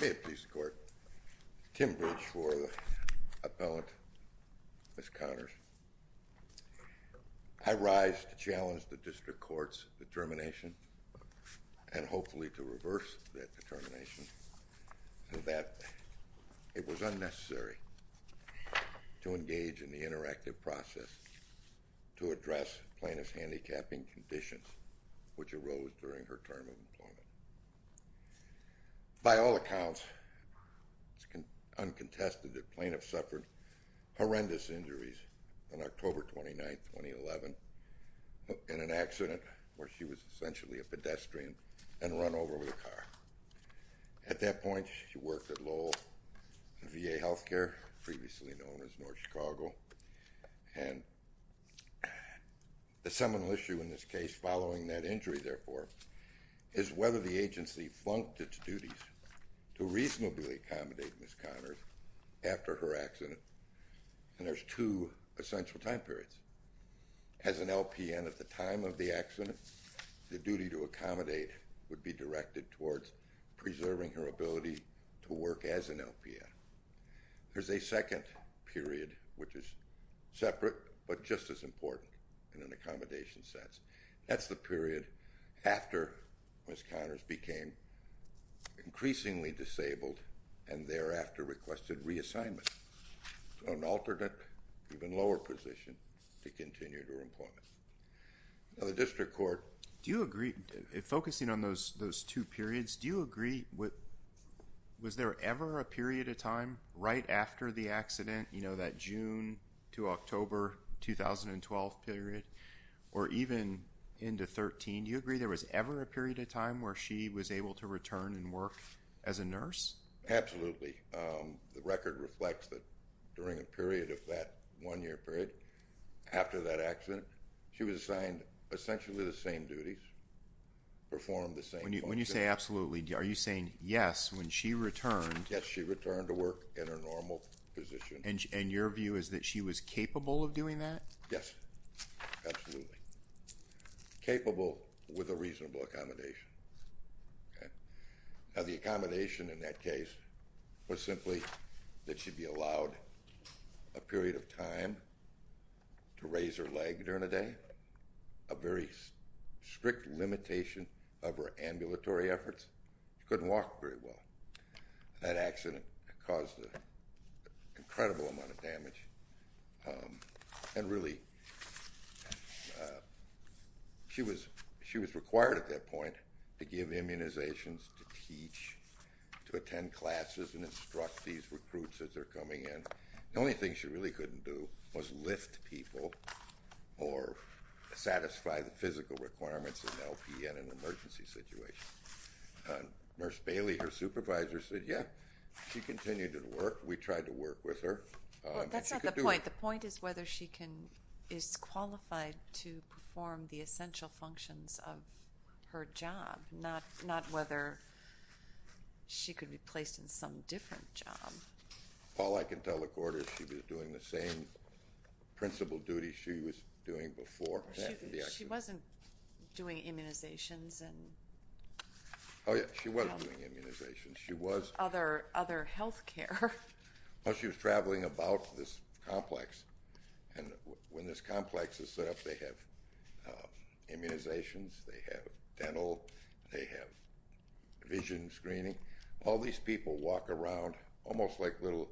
May it please the court, Kim Bridge for the appellant, Ms. Conners. I rise to challenge the district court's determination and hopefully to reverse that determination so that it was unnecessary to engage in the interactive process to address plaintiff's handicapping conditions which arose during her term of employment. By all accounts, uncontested, the plaintiff suffered horrendous injuries on October 29th, 2011 in an accident where she was essentially a pedestrian and run over with a car. At that point, she worked at Lowell VA Healthcare, previously known as North Chicago. And the seminal issue in this case following that injury, therefore, is whether the agency flunked its duties to reasonably accommodate Ms. Conners after her accident. And there's two essential time periods. As an LPN at the time of the accident, the duty to accommodate would be directed towards preserving her ability to work as an LPN. There's a second period which is separate but just as important in an accommodation sense. That's the period after Ms. Conners became increasingly disabled and thereafter requested reassignment. So an alternate, even lower position to continue her employment. The district court. Do you agree, focusing on those two periods, do you agree, was there ever a period of time right after the accident, you know, that June to October 2012 period, or even into 2013, do you agree there was ever a period of time where she was able to return and work as a nurse? Absolutely. The record reflects that during a period of that one year period, after that accident, she was assigned essentially the same duties, performed the same functions. When you say absolutely, are you saying yes, when she returned? Yes, she returned to work in her normal position. And your view is that she was capable of doing that? Yes. Absolutely. Capable with a reasonable accommodation. Now the accommodation in that case was simply that she'd be allowed a period of time to raise her leg during the day, a very strict limitation of her ambulatory efforts. She couldn't walk very well. That accident caused an incredible amount of damage. And really, she was required at that point to give immunizations, to teach, to attend classes and instruct these recruits as they're coming in. The only thing she really couldn't do was lift people or satisfy the physical requirements in LP in an emergency situation. Nurse Bailey, her supervisor, said, yeah, she continued to work. We tried to work with her. That's not the point. The point is whether she is qualified to perform the essential functions of her job, not whether she could be placed in some different job. All I can tell the Court is she was doing the same principal duties she was doing before that. She wasn't doing immunizations. Oh, yes, she was doing immunizations. She was. Other health care. Well, she was traveling about this complex, and when this complex is set up, they have immunizations, they have dental, they have vision screening. All these people walk around almost like a little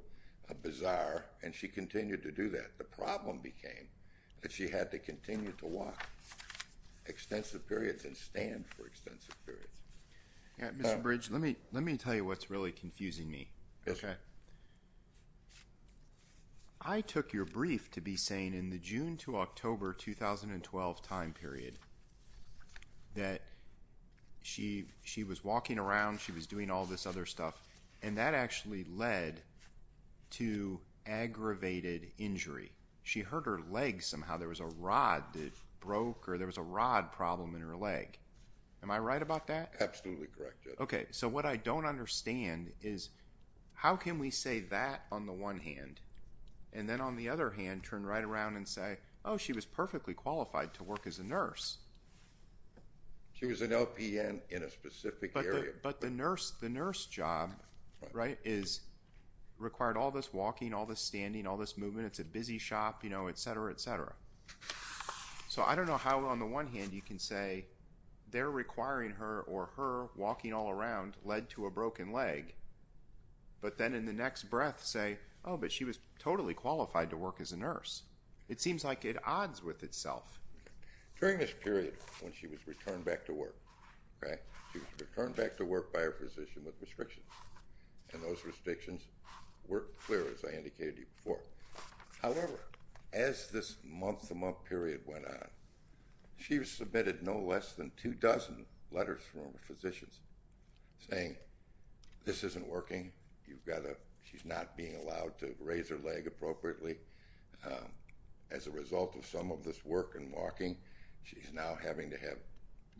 bazaar, and she continued to do that. The problem became that she had to continue to walk extensive periods and stand for extensive periods. Mr. Bridge, let me tell you what's really confusing me. Okay. I took your brief to be saying in the June to October 2012 time period that she was walking around, she was doing all this other stuff, and that actually led to aggravated injury. She hurt her leg somehow. There was a rod that broke or there was a rod problem in her leg. Am I right about that? Absolutely correct, Judge. Okay, so what I don't understand is how can we say that on the one hand and then on the other hand turn right around and say, oh, she was perfectly qualified to work as a nurse. She was an LPN in a specific area. But the nurse job, right, required all this walking, all this standing, all this movement, it's a busy shop, you know, et cetera, et cetera. So I don't know how on the one hand you can say they're requiring her or her walking all around led to a broken leg, but then in the next breath say, oh, but she was totally qualified to work as a nurse. It seems like it odds with itself. During this period when she was returned back to work, right, she was returned back to work by her physician with restrictions, and those restrictions were clear, as I indicated to you before. However, as this month-to-month period went on, she submitted no less than two dozen letters from her physicians saying this isn't working. She's not being allowed to raise her leg appropriately. As a result of some of this work and walking, she's now having to have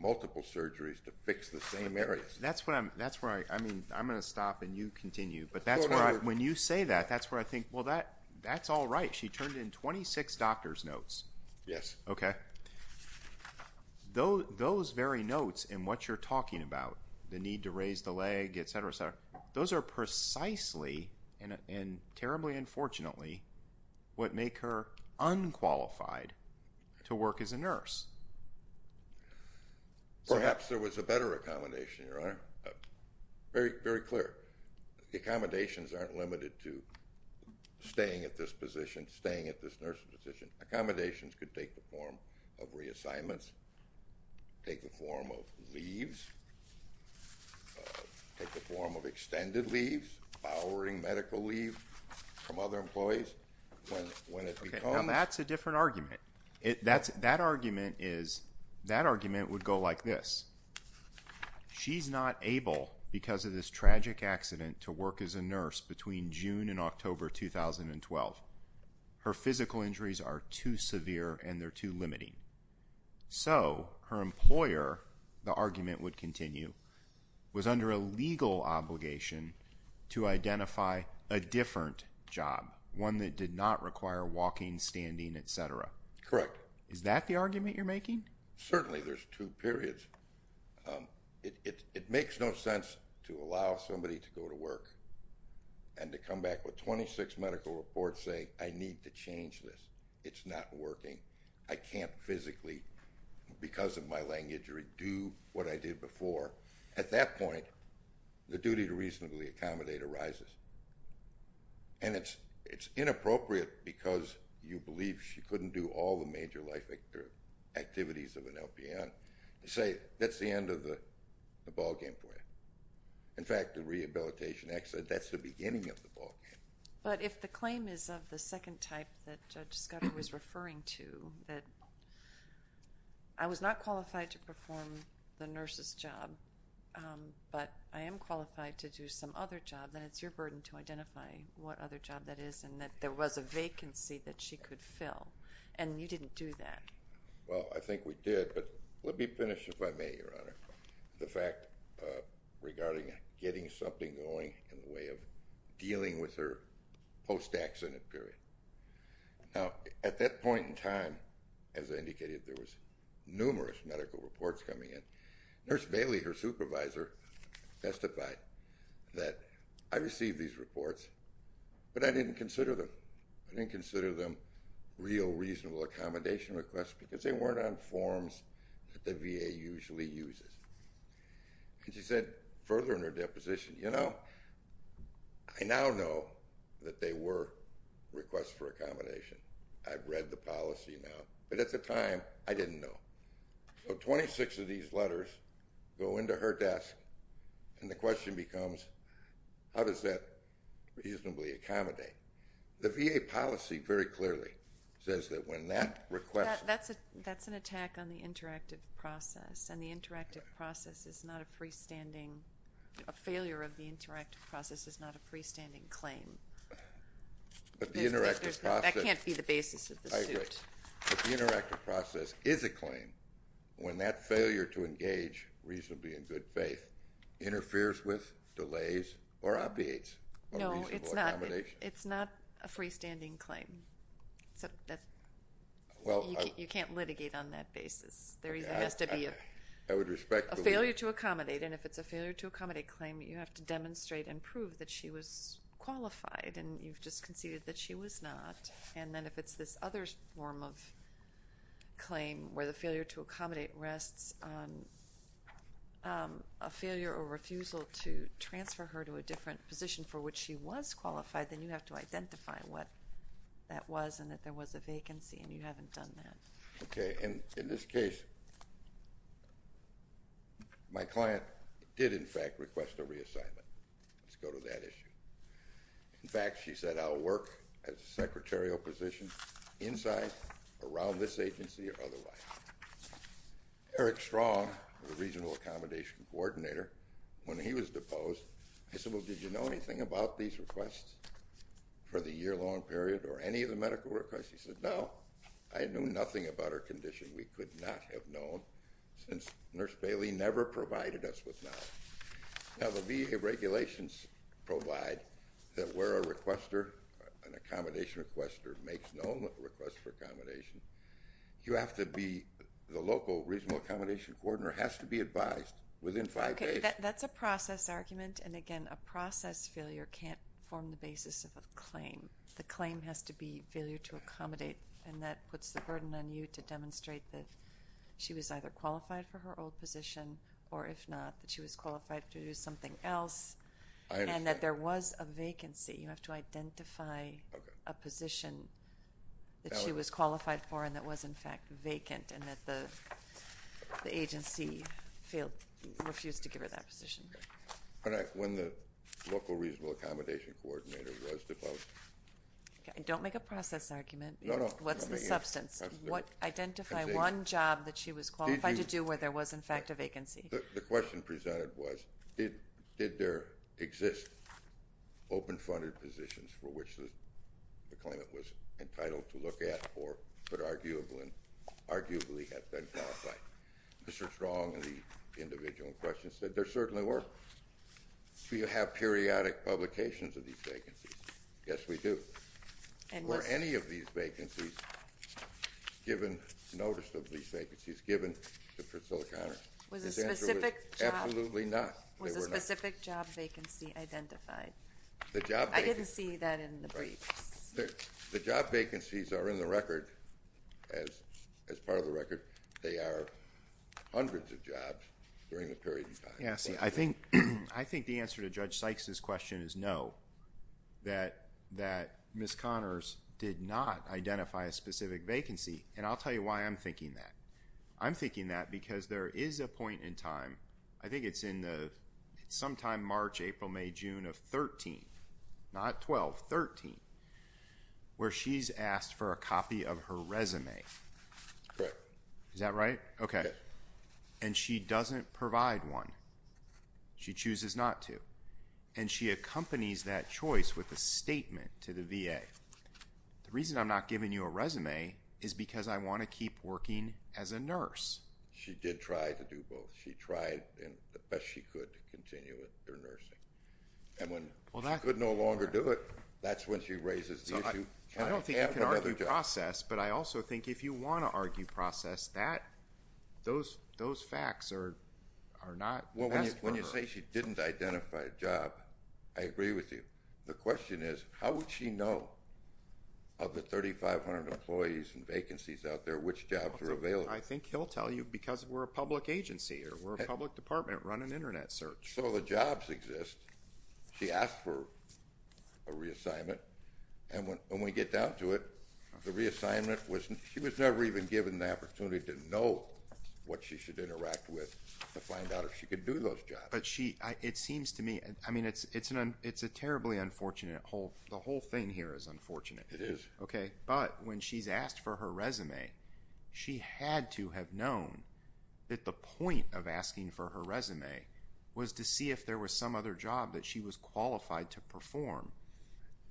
multiple surgeries to fix the same areas. That's where I'm going to stop and you continue. But when you say that, that's where I think, well, that's all right. She turned in 26 doctor's notes. Yes. Okay. Those very notes and what you're talking about, the need to raise the leg, et cetera, et cetera, those are precisely and terribly unfortunately what make her unqualified to work as a nurse. Perhaps there was a better accommodation, Your Honor. Very clear. The accommodations aren't limited to staying at this position, staying at this nursing position. Accommodations could take the form of reassignments, take the form of leaves, take the form of extended leaves, powering medical leave from other employees. Now, that's a different argument. That argument is, that argument would go like this. She's not able, because of this tragic accident, to work as a nurse between June and October 2012. Her physical injuries are too severe and they're too limiting. So, her employer, the argument would continue, was under a legal obligation to identify a different job, one that did not require walking, standing, et cetera. Is that the argument you're making? Certainly, there's two periods. It makes no sense to allow somebody to go to work and to come back with 26 medical reports saying, I need to change this. It's not working. I can't physically, because of my leg injury, do what I did before. At that point, the duty to reasonably accommodate arises. And it's inappropriate, because you believe she couldn't do all the major life activities of an LPN, to say, that's the end of the ballgame for you. In fact, the rehabilitation accident, that's the beginning of the ballgame. But if the claim is of the second type that Judge Scudder was referring to, that I was not qualified to perform the nurse's job, but I am qualified to do some other job, then it's your burden to identify what other job that is, and that there was a vacancy that she could fill. And you didn't do that. Well, I think we did, but let me finish, if I may, Your Honor, the fact regarding getting something going in the way of dealing with her post-accident period. Now, at that point in time, as I indicated, there was numerous medical reports coming in. Nurse Bailey, her supervisor, testified that I received these reports, but I didn't consider them. I didn't consider them real, reasonable accommodation requests, because they weren't on forms that the VA usually uses. And she said further in her deposition, you know, I now know that they were requests for accommodation. I've read the policy now. But at the time, I didn't know. So 26 of these letters go into her desk, and the question becomes, how does that reasonably accommodate? The VA policy very clearly says that when that request – That's an attack on the interactive process, and the interactive process is not a freestanding – a failure of the interactive process is not a freestanding claim. But the interactive process – That can't be the basis of the suit. But the interactive process is a claim when that failure to engage reasonably in good faith interferes with, delays, or obviates a reasonable accommodation. No, it's not a freestanding claim. You can't litigate on that basis. There has to be a failure to accommodate, and if it's a failure to accommodate claim, you have to demonstrate and prove that she was qualified, and you've just conceded that she was not. And then if it's this other form of claim where the failure to accommodate rests on a failure or refusal to transfer her to a different position for which she was qualified, then you have to identify what that was and that there was a vacancy, and you haven't done that. Okay. And in this case, my client did, in fact, request a reassignment. Let's go to that issue. In fact, she said, I'll work as a secretarial position inside, around this agency, or otherwise. Eric Strong, the regional accommodation coordinator, when he was deposed, he said, Well, did you know anything about these requests for the year-long period or any of the medical requests? He said, No, I knew nothing about her condition. We could not have known since Nurse Bailey never provided us with knowledge. Now, the VA regulations provide that where a requester, an accommodation requester, makes known requests for accommodation, you have to be, the local regional accommodation coordinator has to be advised within five days. Okay, that's a process argument, and again, a process failure can't form the basis of a claim. The claim has to be failure to accommodate, and that puts the burden on you to demonstrate that she was either qualified for her old position or, if not, that she was qualified to do something else, and that there was a vacancy. You have to identify a position that she was qualified for and that was, in fact, vacant, and that the agency refused to give her that position. All right. When the local regional accommodation coordinator was deposed. Don't make a process argument. No, no. What's the substance? Identify one job that she was qualified to do where there was, in fact, a vacancy. The question presented was did there exist open-funded positions for which the claimant was entitled to look at or could arguably have been qualified? Mr. Strong, in the individual question, said there certainly were. Do you have periodic publications of these vacancies? Yes, we do. Were any of these vacancies given notice of these vacancies given to Priscilla Connors? Was a specific job vacancy identified? I didn't see that in the briefs. The job vacancies are in the record as part of the record. They are hundreds of jobs during the period of time. I think the answer to Judge Sykes' question is no, that Ms. Connors did not identify a specific vacancy, and I'll tell you why I'm thinking that. I'm thinking that because there is a point in time. I think it's sometime March, April, May, June of 13, not 12, 13, where she's asked for a copy of her resume. Correct. Is that right? Okay. And she doesn't provide one. She chooses not to. And she accompanies that choice with a statement to the VA. The reason I'm not giving you a resume is because I want to keep working as a nurse. She did try to do both. She tried the best she could to continue with her nursing. And when she could no longer do it, that's when she raises the issue. I don't think you can argue process, but I also think if you want to argue process, those facts are not best for her. When you say she didn't identify a job, I agree with you. The question is how would she know of the 3,500 employees and vacancies out there which jobs are available? I think he'll tell you because we're a public agency or we're a public department running Internet search. So the jobs exist. She asked for a reassignment. And when we get down to it, the reassignment was she was never even given the opportunity to know what she should interact with to find out if she could do those jobs. But she, it seems to me, I mean, it's a terribly unfortunate, the whole thing here is unfortunate. It is. Okay, but when she's asked for her resume, she had to have known that the point of asking for her resume was to see if there was some other job that she was qualified to perform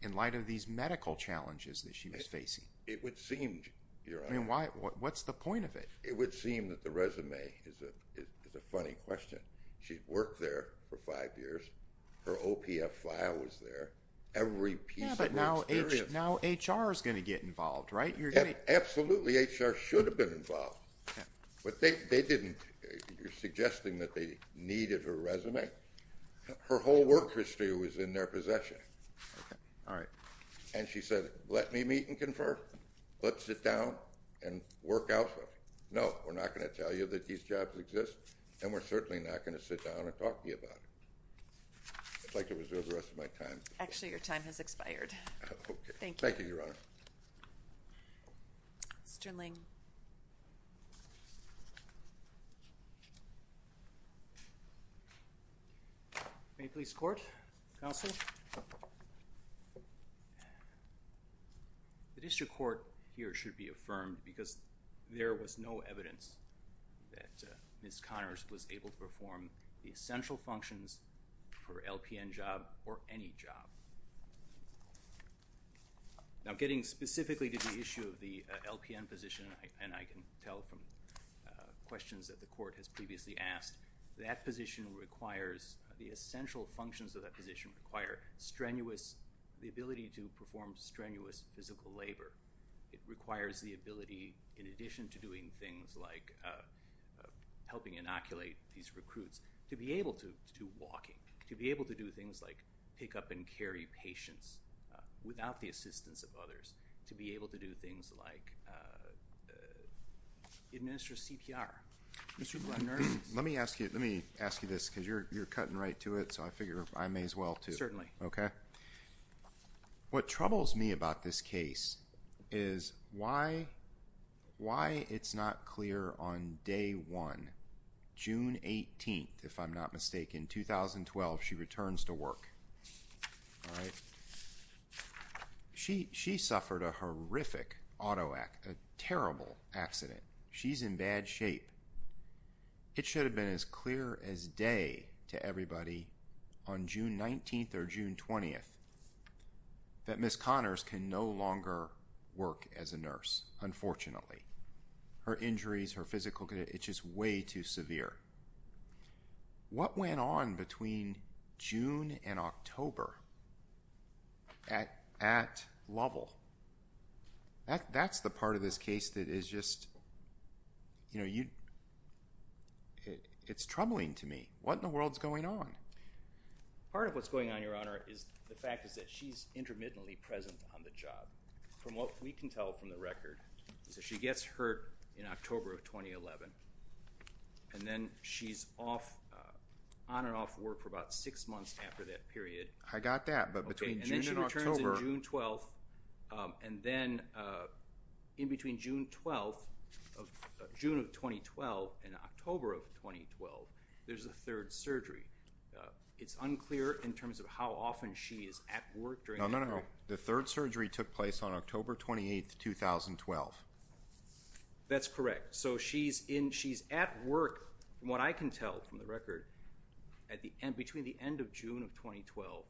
in light of these medical challenges that she was facing. It would seem, Your Honor. I mean, what's the point of it? It would seem that the resume is a funny question. She'd worked there for five years. Her OPF file was there. Yeah, but now HR is going to get involved, right? Absolutely, HR should have been involved. But they didn't. You're suggesting that they needed her resume? Her whole work history was in their possession. All right. And she said, let me meet and confer. Let's sit down and work out. No, we're not going to tell you that these jobs exist, and we're certainly not going to sit down and talk to you about it. I'd like to reserve the rest of my time. Actually, your time has expired. Okay. Thank you. Thank you, Your Honor. Mr. Ling. Mapley's Court. Counsel. The district court here should be affirmed because there was no evidence that Ms. Connors was able to perform the essential functions for an LPN job or any job. Now, getting specifically to the issue of the LPN position, and I can tell from questions that the court has previously asked, that position requires, the essential functions of that position require strenuous, the ability to perform strenuous physical labor. It requires the ability, in addition to doing things like helping inoculate these recruits, to be able to do walking, to be able to do things like pick up and carry patients without the assistance of others, to be able to do things like administer CPR. Mr. Blunder. Let me ask you this because you're cutting right to it, so I figure I may as well, too. Certainly. Okay. What troubles me about this case is why it's not clear on day one, June 18th, if I'm not mistaken, 2012, she returns to work. All right? She suffered a horrific auto accident, a terrible accident. She's in bad shape. It should have been as clear as day to everybody on June 19th or June 20th that Ms. Connors can no longer work as a nurse, unfortunately. Her injuries, her physical, it's just way too severe. What went on between June and October at level? That's the part of this case that is just, you know, it's troubling to me. What in the world is going on? Part of what's going on, Your Honor, is the fact is that she's intermittently present on the job. From what we can tell from the record is that she gets hurt in October of 2011, and then she's on and off work for about six months after that period. I got that. Okay, and then she returns in June 12th, and then in between June of 2012 and October of 2012, there's a third surgery. It's unclear in terms of how often she is at work during that period. No, no, no. The third surgery took place on October 28th, 2012. That's correct. So she's at work, from what I can tell from the record, between the end of June of 2012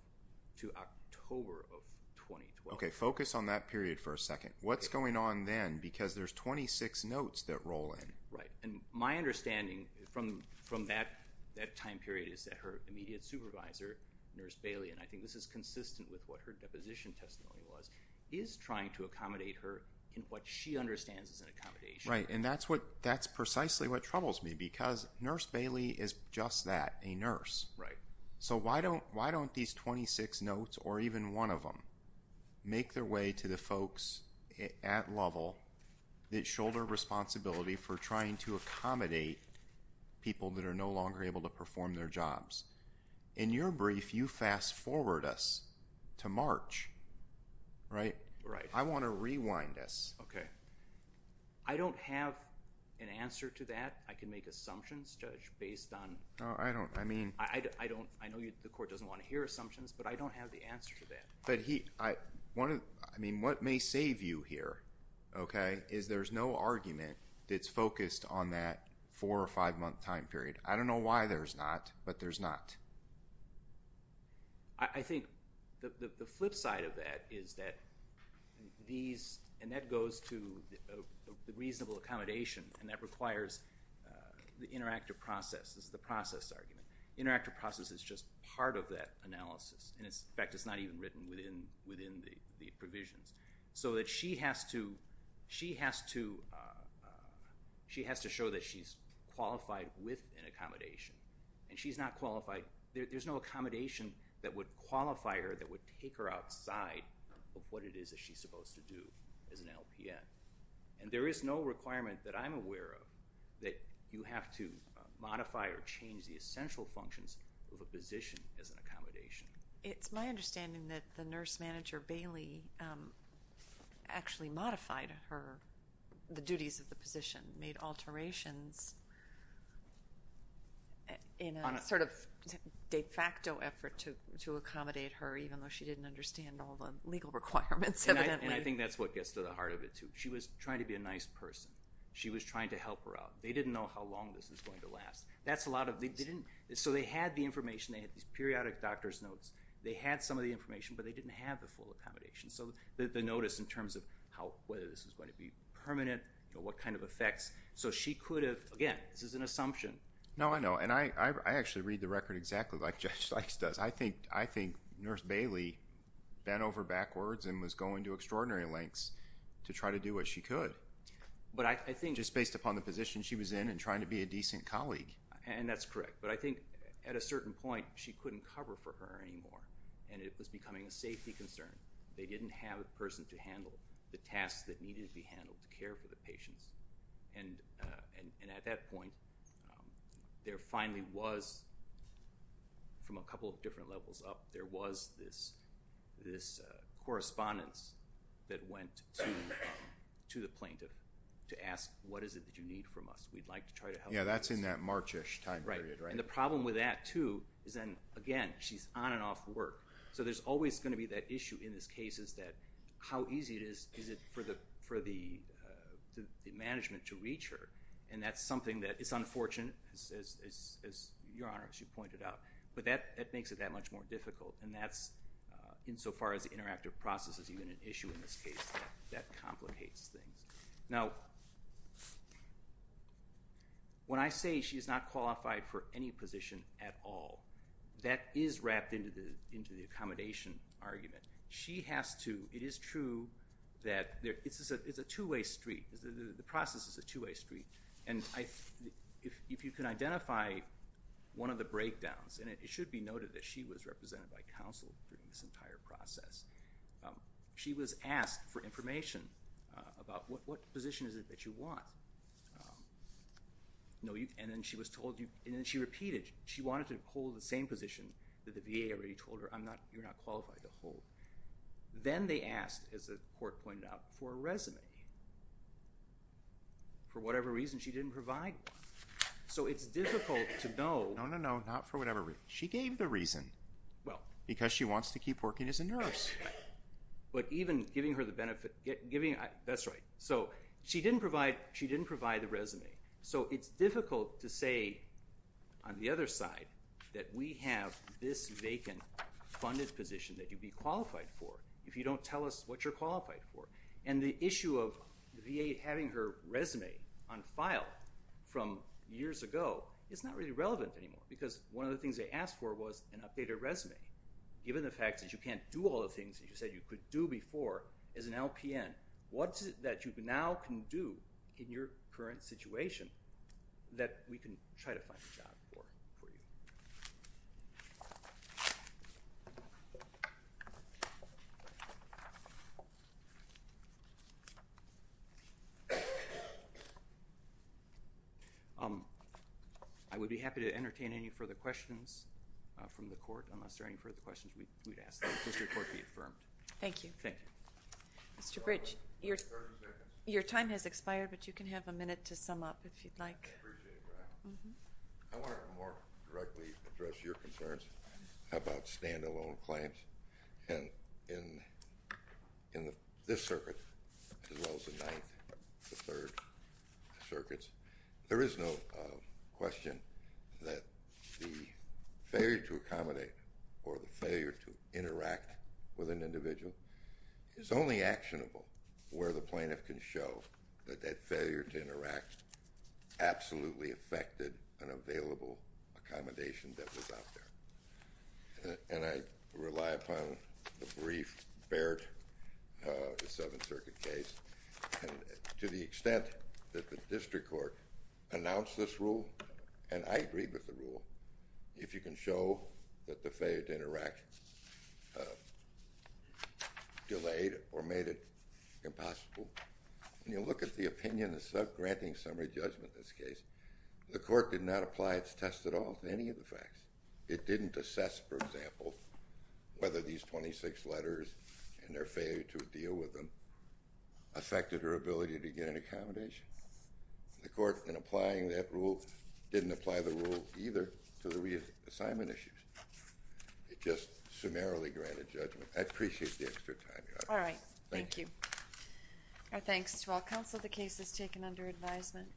to October of 2012. Okay, focus on that period for a second. What's going on then? Because there's 26 notes that roll in. Right, and my understanding from that time period is that her immediate supervisor, Nurse Bailey, and I think this is consistent with what her deposition testimony was, is trying to accommodate her in what she understands is an accommodation. Right, and that's precisely what troubles me because Nurse Bailey is just that, a nurse. Right. So why don't these 26 notes, or even one of them, make their way to the folks at level that shoulder responsibility for trying to accommodate people that are no longer able to perform their jobs? In your brief, you fast forward us to March, right? Right. I want to rewind this. Okay. I don't have an answer to that. I can make assumptions, Judge, based on. I don't, I mean. I know the court doesn't want to hear assumptions, but I don't have the answer to that. But he, I mean, what may save you here, okay, is there's no argument that's focused on that four or five month time period. I don't know why there's not, but there's not. I think the flip side of that is that these, and that goes to the reasonable accommodation, and that requires the interactive process. This is the process argument. Interactive process is just part of that analysis, and, in fact, it's not even written within the provisions. So that she has to, she has to, she has to show that she's qualified with an accommodation, and she's not qualified. There's no accommodation that would qualify her, that would take her outside of what it is that she's supposed to do as an LPN. And there is no requirement that I'm aware of that you have to modify or change the essential functions of a position as an accommodation. It's my understanding that the nurse manager, Bailey, actually modified her, the duties of the position, made alterations in a sort of de facto effort to accommodate her, even though she didn't understand all the legal requirements, evidently. And I think that's what gets to the heart of it, too. She was trying to be a nice person. She was trying to help her out. So they had the information. They had these periodic doctor's notes. They had some of the information, but they didn't have the full accommodation. So the notice in terms of how, whether this was going to be permanent, what kind of effects. So she could have, again, this is an assumption. No, I know, and I actually read the record exactly like Judge Sykes does. I think Nurse Bailey bent over backwards and was going to extraordinary lengths to try to do what she could. Just based upon the position she was in and trying to be a decent colleague. And that's correct. But I think at a certain point, she couldn't cover for her anymore, and it was becoming a safety concern. They didn't have a person to handle the tasks that needed to be handled to care for the patients. And at that point, there finally was, from a couple of different levels up, there was this correspondence that went to the plaintiff to ask, what is it that you need from us? We'd like to try to help you. Yeah, that's in that March-ish time period, right? Right. And the problem with that, too, is then, again, she's on and off work. So there's always going to be that issue in this case is that, how easy is it for the management to reach her? And that's something that is unfortunate, as Your Honor, as you pointed out. But that makes it that much more difficult. And that's, insofar as the interactive process is even an issue in this case, that complicates things. Now, when I say she is not qualified for any position at all, that is wrapped into the accommodation argument. It is true that it's a two-way street. The process is a two-way street. And if you can identify one of the breakdowns, and it should be noted that she was represented by counsel during this entire process, she was asked for information about, what position is it that you want? And then she repeated, she wanted to hold the same position that the VA already told her, you're not qualified to hold. Then they asked, as the court pointed out, for a resume. For whatever reason, she didn't provide one. So it's difficult to know. No, no, no, not for whatever reason. She gave the reason because she wants to keep working as a nurse. But even giving her the benefit, giving, that's right. So she didn't provide the resume. So it's difficult to say, on the other side, that we have this vacant funded position that you'd be qualified for if you don't tell us what you're qualified for. And the issue of the VA having her resume on file from years ago is not really relevant anymore because one of the things they asked for was an updated resume. Given the fact that you can't do all the things that you said you could do before as an LPN, what is it that you now can do in your current situation that we can try to find a job for you? I would be happy to entertain any further questions from the court, unless there are any further questions we'd ask that the court be affirmed. Thank you. Thank you. Mr. Bridge, your time has expired, but you can have a minute to sum up if you'd like. I appreciate that. I want to more directly address your concerns about stand-alone claims. And in this circuit, as well as the 9th, the 3rd circuits, there is no question that the failure to accommodate or the failure to interact with an individual is only actionable where the plaintiff can show that that failure to interact absolutely affected an available accommodation that was out there. And I rely upon the brief Baird, the 7th Circuit case, and to the extent that the district court announced this rule, and I agree with the rule, if you can show that the failure to interact delayed or made it impossible. When you look at the opinion of granting summary judgment in this case, the court did not apply its test at all to any of the facts. It didn't assess, for example, whether these 26 letters and their failure to deal with them affected her ability to get an accommodation. The court, in applying that rule, didn't apply the rule either to the reassignment issues. It just summarily granted judgment. I appreciate the extra time, Your Honor. All right. Thank you. Our thanks to all counsel. The case is taken under advisement.